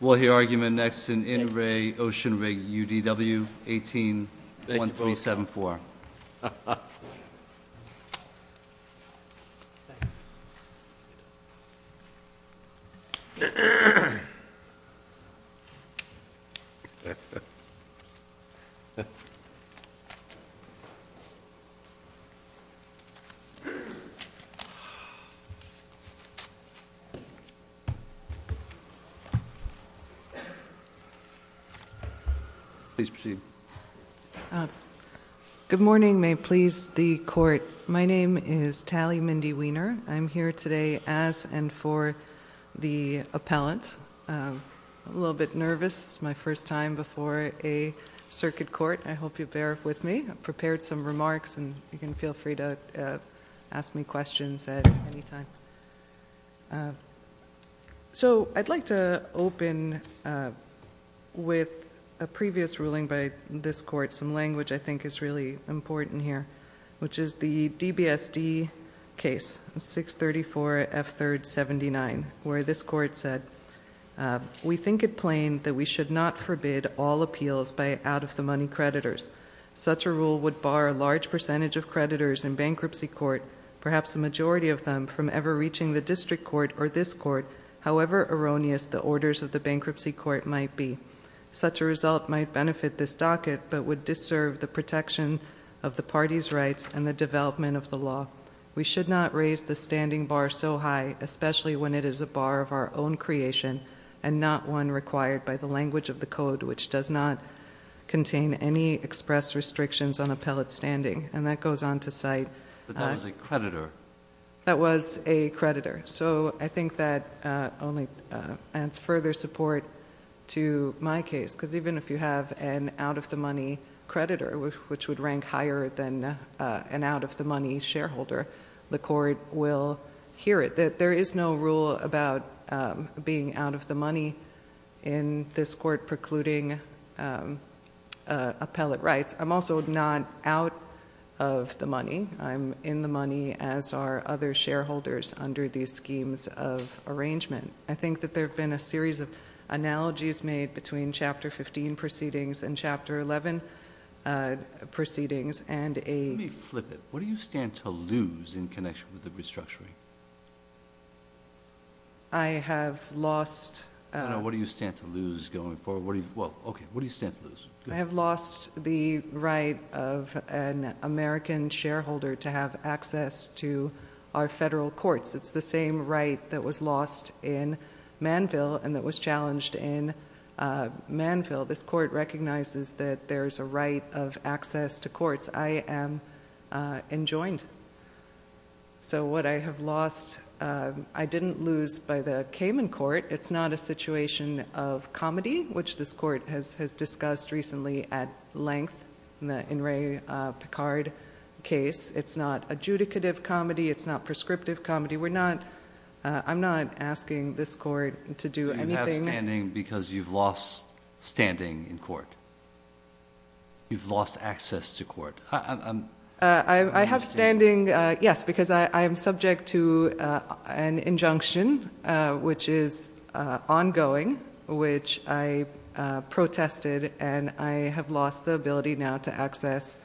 We'll hear argument next in In Re Ocean Rig UDW 18-1374. Please proceed. Good morning. May it please the court. My name is Tali Mindy Wiener. I'm here today as and for the appellant. I'm a little bit nervous. It's my first time before a circuit court. I hope you bear with me. I've prepared some remarks and you can feel free to ask me questions at any time. So, I'd like to open with a previous ruling by this court, some language I think is really important here, which is the DBSD case, 634 F3rd 79, where this court said, we think it plain that we should not forbid all appeals by out-of-the-money creditors. Such a rule would bar a large percentage of creditors in bankruptcy court, perhaps a majority of them, from ever reaching the district court or this court, however erroneous the orders of the bankruptcy court might be. Such a result might benefit this docket, but would disserve the protection of the party's rights and the development of the law. We should not raise the standing bar so high, especially when it is a bar of our own creation and not one required by the language of the code, which does not contain any express restrictions on appellate standing. And that goes on to cite- But that was a creditor. That was a creditor. So I think that only adds further support to my case, because even if you have an out-of-the-money creditor, which would rank higher than an out-of-the-money shareholder, the court will hear it. There is no rule about being out-of-the-money in this court precluding appellate rights. I'm also not out of the money. I'm in the money, as are other shareholders under these schemes of arrangement. I think that there have been a series of analogies made between Chapter 15 proceedings and Chapter 11 proceedings, and a- Let me flip it. What do you stand to lose in connection with the restructuring? I have lost- No, no. What do you stand to lose going forward? Well, okay. What do you stand to lose? Go ahead. I have lost the right of an American shareholder to have access to our federal courts. It's the same right that was lost in Manville, and that was challenged in Manville. This court recognizes that there's a right of access to courts. I am enjoined. So what I have lost, I didn't lose by the Kamen court. It's not a situation of comedy, which this court has discussed recently at length in the In re Picard case. It's not adjudicative comedy. It's not prescriptive comedy. I'm not asking this court to do anything- You have standing because you've lost standing in court. You've lost access to court. I understand. I have standing, yes, because I am subject to an injunction, which is ongoing, which I protested, and I have lost the ability now to access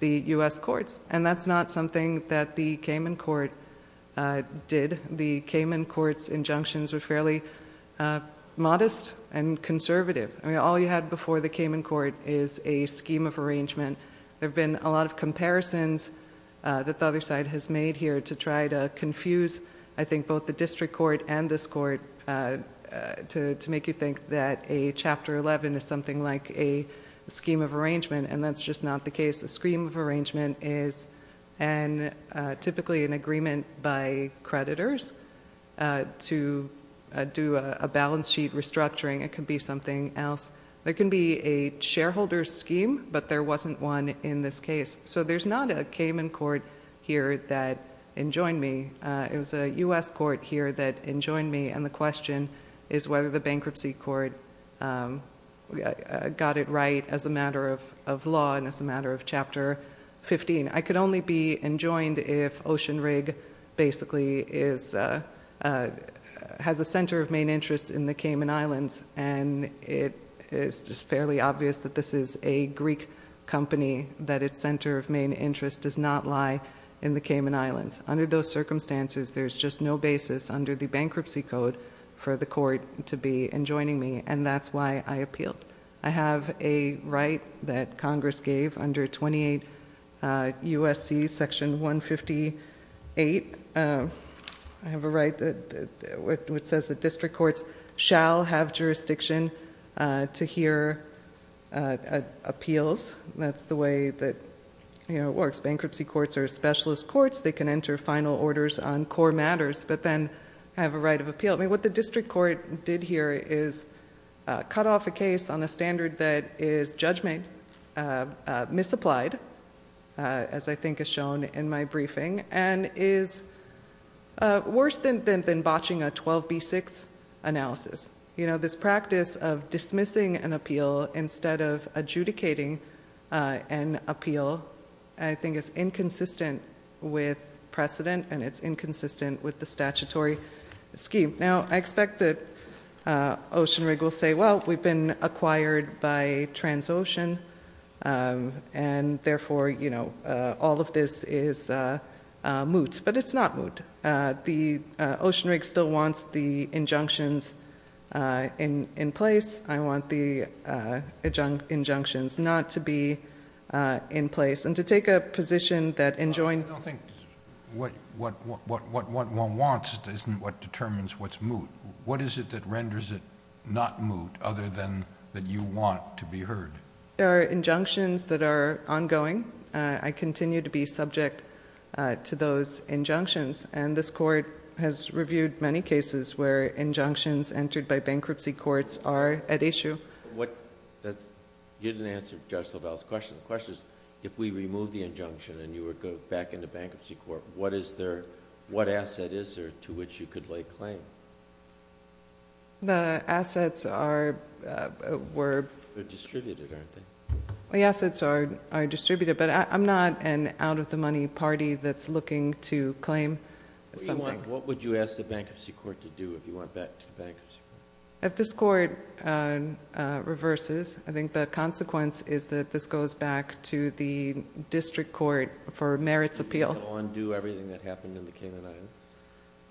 the U.S. courts. That's not something that the Kamen court did. The Kamen court's injunctions were fairly modest and conservative. All you had before the Kamen court is a scheme of arrangement. There have been a lot of comparisons that the other side has made here to try to confuse, I think, both the district court and this court to make you think that a Chapter 11 is something like a scheme of arrangement, and that's just not the case. A scheme of arrangement is typically an agreement by creditors to do a balance sheet restructuring. It can be something else. There can be a shareholder scheme, but there wasn't one in this case. There's not a Kamen court here that enjoined me. It was a U.S. court here that enjoined me, and the question is whether the bankruptcy court got it right as a matter of law and as a matter of Chapter 15. I could only be enjoined if Ocean Rig basically has a center of main interest in the Kamen Islands, and it is just fairly obvious that this is a Greek company, that its center of main interest does not lie in the Kamen Islands. Under those circumstances, there's just no basis under the bankruptcy code for the court to be enjoining me, and that's why I appealed. I have a right that Congress gave under 28 USC section 158. I have a right that says that district courts shall have jurisdiction to hear appeals. That's the way that it works. Bankruptcy courts are specialist courts. They can enter final orders on core matters, but then I have a right of appeal. What the district court did here is cut off a case on a standard that is judgment, misapplied, as I think is shown in my briefing, and is worse than botching a 12B6 analysis. This practice of dismissing an appeal instead of adjudicating an appeal, I think is inconsistent with precedent, and it's inconsistent with the statutory scheme. Now, I expect that Ocean Rig will say, well, we've been acquired by Transocean, and therefore, all of this is moot, but it's not moot. The Ocean Rig still wants the injunctions in place. I want the injunctions not to be in place, and to take a position that enjoined- I don't think what one wants isn't what determines what's moot. What is it that renders it not moot, other than that you want to be heard? There are injunctions that are ongoing. I continue to be subject to those injunctions, and this court has reviewed many cases where injunctions entered by bankruptcy courts are at issue. You didn't answer Judge LaValle's question. The question is, if we remove the injunction and you were to go back into bankruptcy court, what asset is there to which you could lay claim? The assets are- They're distributed, aren't they? The assets are distributed, but I'm not an out of the money party that's looking to claim something. What would you ask the bankruptcy court to do if you went back to bankruptcy court? If this court reverses, I think the consequence is that this goes back to the district court for merits appeal. It will undo everything that happened in the Cayman Islands?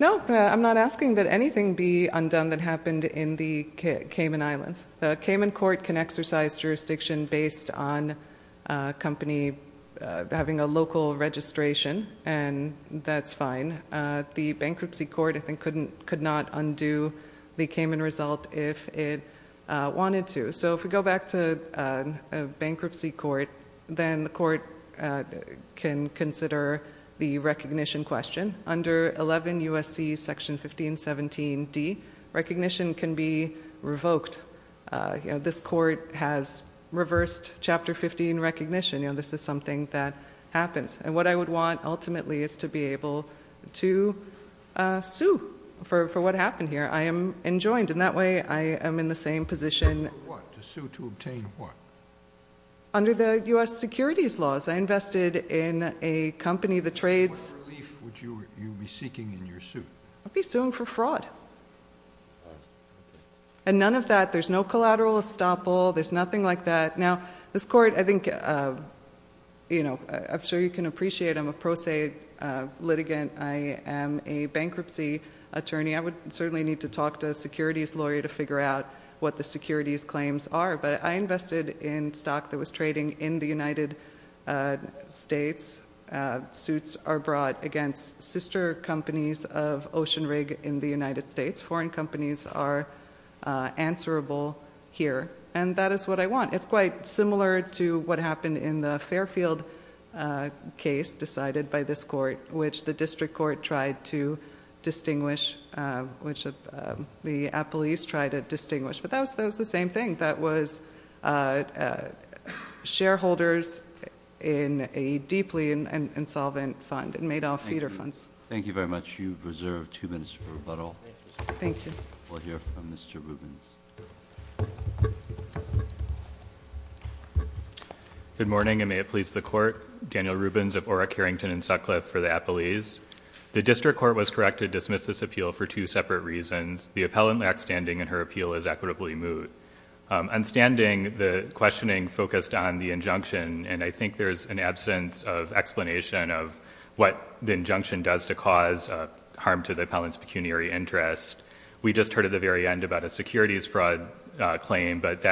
No, I'm not asking that anything be undone that happened in the Cayman Islands. The Cayman court can exercise jurisdiction based on a company having a local registration, and that's fine. The bankruptcy court, I think, could not undo the Cayman result if it wanted to. So if we go back to a bankruptcy court, then the court can consider the recognition question. Under 11 USC section 1517D, recognition can be revoked. This court has reversed chapter 15 recognition. This is something that happens. And what I would want, ultimately, is to be able to sue for what happened here. I am enjoined. And that way, I am in the same position- Sue for what? To sue to obtain what? Under the US securities laws. I invested in a company, the trades- What relief would you be seeking in your suit? I'd be suing for fraud. And none of that, there's no collateral estoppel, there's nothing like that. Now, this court, I think, I'm sure you can appreciate I'm a pro se litigant. I am a bankruptcy attorney. I would certainly need to talk to a securities lawyer to figure out what the securities claims are. But I invested in stock that was trading in the United States. Suits are brought against sister companies of Ocean Rig in the United States. Foreign companies are answerable here. And that is what I want. It's quite similar to what happened in the Fairfield case decided by this court, which the district court tried to distinguish, which the appellees tried to distinguish. But that was the same thing. That was shareholders in a deeply insolvent fund. It made all feeder funds. Thank you very much. You've reserved two minutes for rebuttal. Thank you. We'll hear from Mr. Rubens. Good morning, and may it please the court. Daniel Rubens of Orrick, Harrington, and Sutcliffe for the appellees. The district court was correct to dismiss this appeal for two separate reasons. The appellant lacks standing and her appeal is equitably moot. On standing, the questioning focused on the injunction, and I think there's an absence of explanation of what the injunction does to cause harm to the appellant's pecuniary interest. We just heard at the very end about a securities fraud claim, but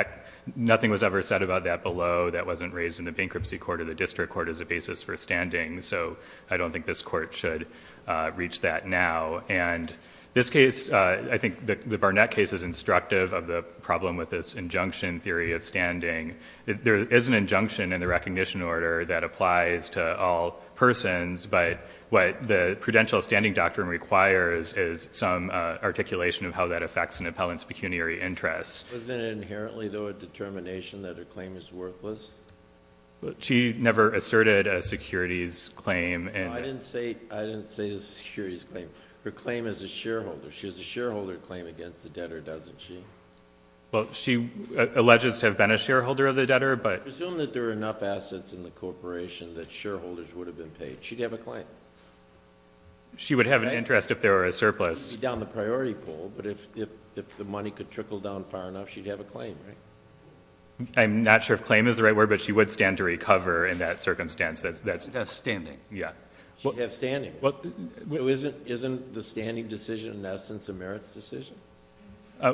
nothing was ever said about that below. That wasn't raised in the bankruptcy court or the district court as a basis for standing. So I don't think this court should reach that now. And this case, I think the Barnett case is instructive of the problem with this injunction theory of standing. There is an injunction in the recognition order that applies to all persons. But what the prudential standing doctrine requires is some articulation of how that affects an appellant's pecuniary interest. Was it inherently, though, a determination that her claim is worthless? She never asserted a securities claim. I didn't say a securities claim. Her claim is a shareholder. She has a shareholder claim against the debtor, doesn't she? Well, she alleges to have been a shareholder of the debtor, but- I presume that there are enough assets in the corporation that shareholders would have been paid. She'd have a claim. She would have an interest if there were a surplus. She'd be down the priority pool, but if the money could trickle down far enough, she'd have a claim, right? I'm not sure if claim is the right word, but she would stand to recover in that circumstance. That's- That's standing. Yeah. She'd have standing. Isn't the standing decision, in essence, a merits decision?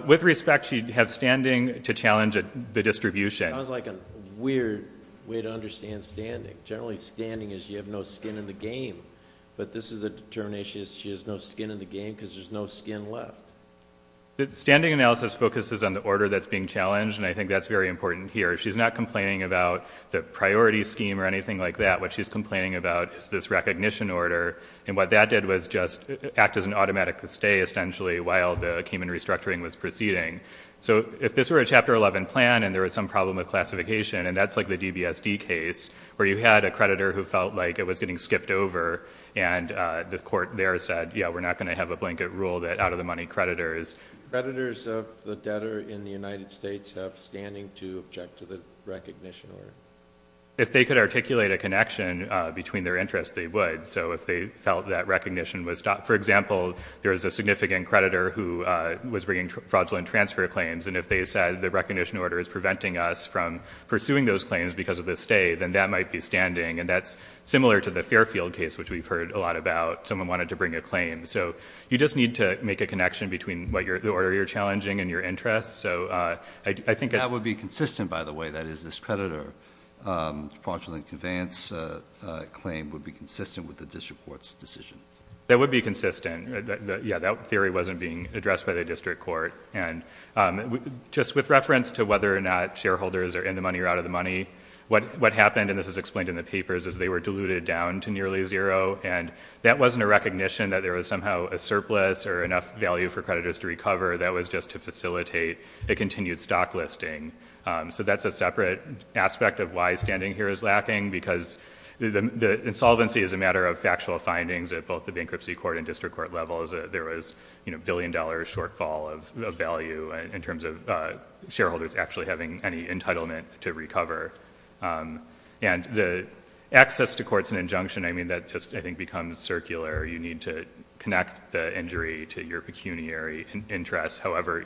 With respect, she'd have standing to challenge the distribution. Sounds like a weird way to understand standing. Generally, standing is you have no skin in the game. But this is a determination that she has no skin in the game because there's no skin left. The standing analysis focuses on the order that's being challenged, and I think that's very important here. She's not complaining about the priority scheme or anything like that. What she's complaining about is this recognition order. And what that did was just act as an automatic stay, essentially, while the human restructuring was proceeding. So if this were a Chapter 11 plan and there was some problem with classification, and that's like the DBSD case, where you had a creditor who felt like it was getting skipped over, and the court there said, yeah, we're not going to have a blanket rule that out-of-the-money creditors. Creditors of the debtor in the United States have standing to object to the recognition order. If they could articulate a connection between their interests, they would. So if they felt that recognition was, for example, there was a significant creditor who was bringing fraudulent transfer claims. And if they said the recognition order is preventing us from pursuing those claims because of the stay, then that might be standing. And that's similar to the Fairfield case, which we've heard a lot about. Someone wanted to bring a claim. So you just need to make a connection between the order you're challenging and your interests. So I think it's- That would be consistent, by the way. That is, this creditor fraudulent conveyance claim would be consistent with the district court's decision. That would be consistent. Yeah, that theory wasn't being addressed by the district court. And just with reference to whether or not shareholders are in the money or out of the money, what happened, and this is explained in the papers, is they were diluted down to nearly zero. And that wasn't a recognition that there was somehow a surplus or enough value for creditors to recover, that was just to facilitate a continued stock listing. So that's a separate aspect of why standing here is lacking. Because the insolvency is a matter of factual findings at both the bankruptcy court and the creditors of value in terms of shareholders actually having any entitlement to recover. And the access to courts and injunction, I mean, that just, I think, becomes circular. You need to connect the injury to your pecuniary interests. However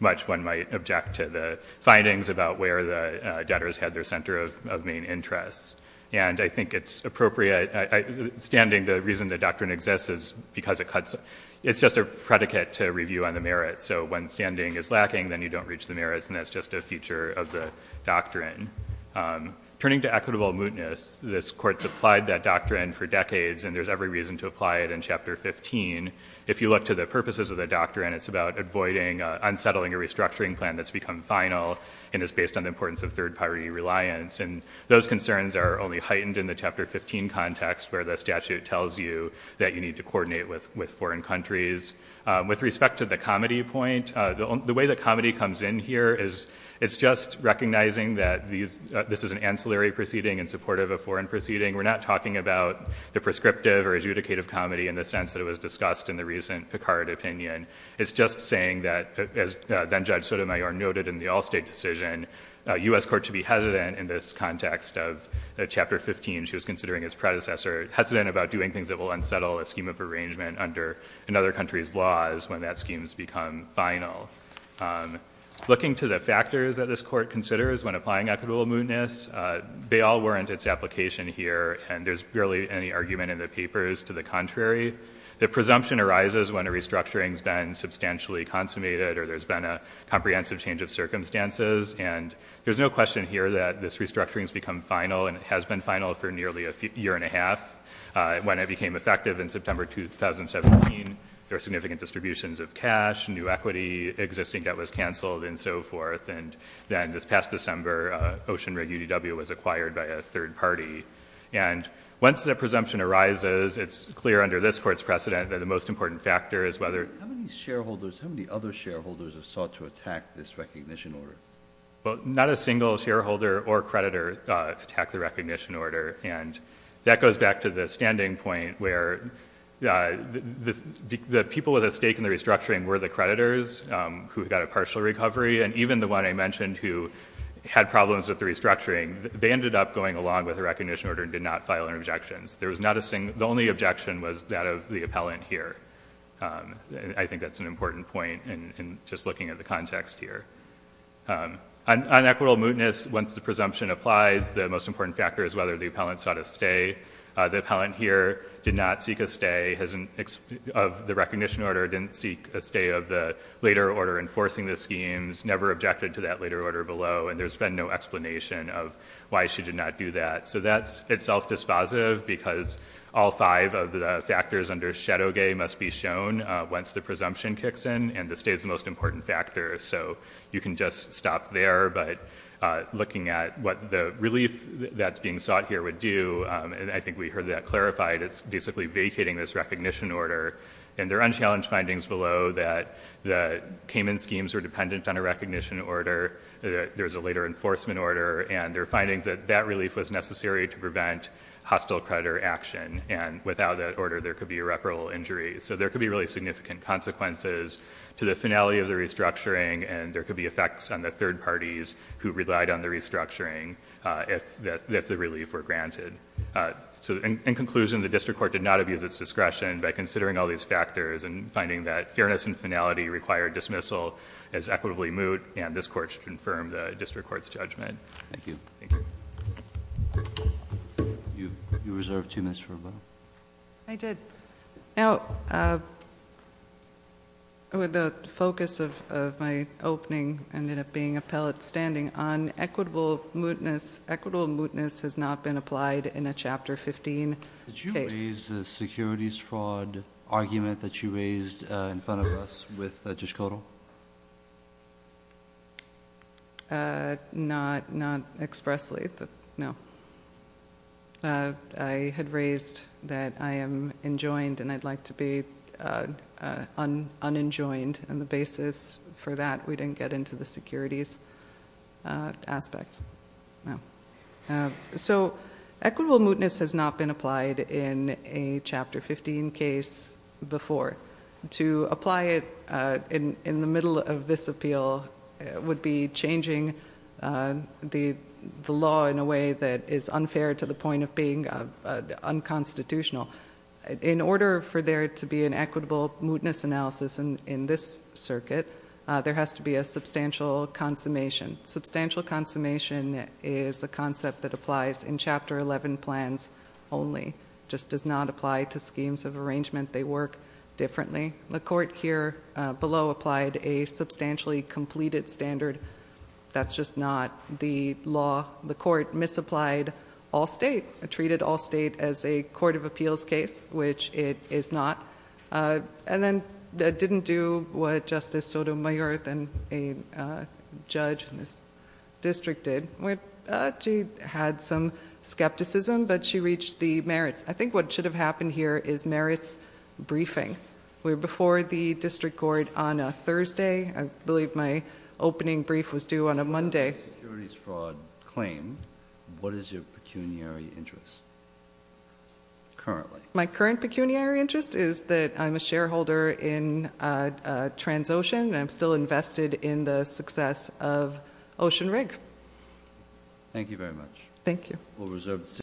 much one might object to the findings about where the debtors had their center of main interests. And I think it's appropriate, standing, the reason the doctrine exists is because it cuts, it's just a predicate to review on the merits. So when standing is lacking, then you don't reach the merits, and that's just a feature of the doctrine. Turning to equitable mootness, this court supplied that doctrine for decades, and there's every reason to apply it in chapter 15. If you look to the purposes of the doctrine, it's about avoiding unsettling a restructuring plan that's become final, and it's based on the importance of third party reliance, and those concerns are only heightened in the chapter 15 context, where the statute tells you that you need to coordinate with foreign countries. With respect to the comedy point, the way that comedy comes in here is, it's just recognizing that this is an ancillary proceeding in support of a foreign proceeding. We're not talking about the prescriptive or adjudicative comedy in the sense that it was discussed in the recent Picard opinion. It's just saying that, as then Judge Sotomayor noted in the Allstate decision, a US court should be hesitant in this context of chapter 15, she was considering his predecessor, hesitant about doing things that will unsettle a scheme of arrangement under another country's laws when that scheme's become final. Looking to the factors that this court considers when applying equitable mootness, they all warrant its application here, and there's barely any argument in the papers to the contrary. The presumption arises when a restructuring's been substantially consummated, or there's been a comprehensive change of circumstances, and there's no question here that this restructuring's become final. And it has been final for nearly a year and a half. When it became effective in September 2017, there were significant distributions of cash, new equity, existing debt was canceled, and so forth. And then this past December, Ocean Rig UDW was acquired by a third party. And once the presumption arises, it's clear under this court's precedent that the most important factor is whether- Shareholders, how many other shareholders have sought to attack this recognition order? Well, not a single shareholder or creditor attacked the recognition order. And that goes back to the standing point where the people with a stake in the restructuring were the creditors who got a partial recovery. And even the one I mentioned who had problems with the restructuring, they ended up going along with the recognition order and did not file any objections. There was not a single, the only objection was that of the appellant here. And I think that's an important point in just looking at the context here. On equitable mootness, once the presumption applies, the most important factor is whether the appellant sought a stay. The appellant here did not seek a stay of the recognition order, didn't seek a stay of the later order enforcing the schemes, never objected to that later order below. And there's been no explanation of why she did not do that. So that's itself dispositive, because all five of the factors under shadow gay must be shown once the presumption kicks in. And the stay is the most important factor, so you can just stop there. But looking at what the relief that's being sought here would do, and I think we heard that clarified, it's basically vacating this recognition order. And there are unchallenged findings below that the Cayman schemes are dependent on a recognition order, that there's a later enforcement order, and there are findings that that relief was necessary to prevent hostile creditor action. And without that order, there could be irreparable injuries. So there could be really significant consequences to the finality of the restructuring, and there could be effects on the third parties who relied on the restructuring if the relief were granted. So in conclusion, the district court did not abuse its discretion by considering all these factors and finding that fairness and finality require dismissal as equitably moot, and this court should confirm the district court's judgment. Thank you. Thank you. You reserved two minutes for a vote. I did. Now, with the focus of my opening ended up being a pellet standing on equitable mootness. Equitable mootness has not been applied in a chapter 15 case. Did you raise the securities fraud argument that you raised in front of us with Judge Kodal? Not expressly, no. I had raised that I am enjoined and I'd like to be unenjoined. And the basis for that, we didn't get into the securities aspect. So equitable mootness has not been applied in a chapter 15 case before. To apply it in the middle of this appeal would be changing the law in a way that is unfair to the point of being unconstitutional. In order for there to be an equitable mootness analysis in this circuit, there has to be a substantial consummation. Substantial consummation is a concept that applies in chapter 11 plans only. Just does not apply to schemes of arrangement. They work differently. The court here below applied a substantially completed standard. That's just not the law. The court misapplied all state, treated all state as a court of appeals case, which it is not. And then, that didn't do what Justice Sotomayor, then a judge in this district did. She had some skepticism, but she reached the merits. I think what should have happened here is merits briefing. We're before the district court on a Thursday. I believe my opening brief was due on a Monday. On the securities fraud claim, what is your pecuniary interest currently? My current pecuniary interest is that I'm a shareholder in Transocean and I'm still invested in the success of Ocean Rig. Thank you very much. Thank you. We'll reserve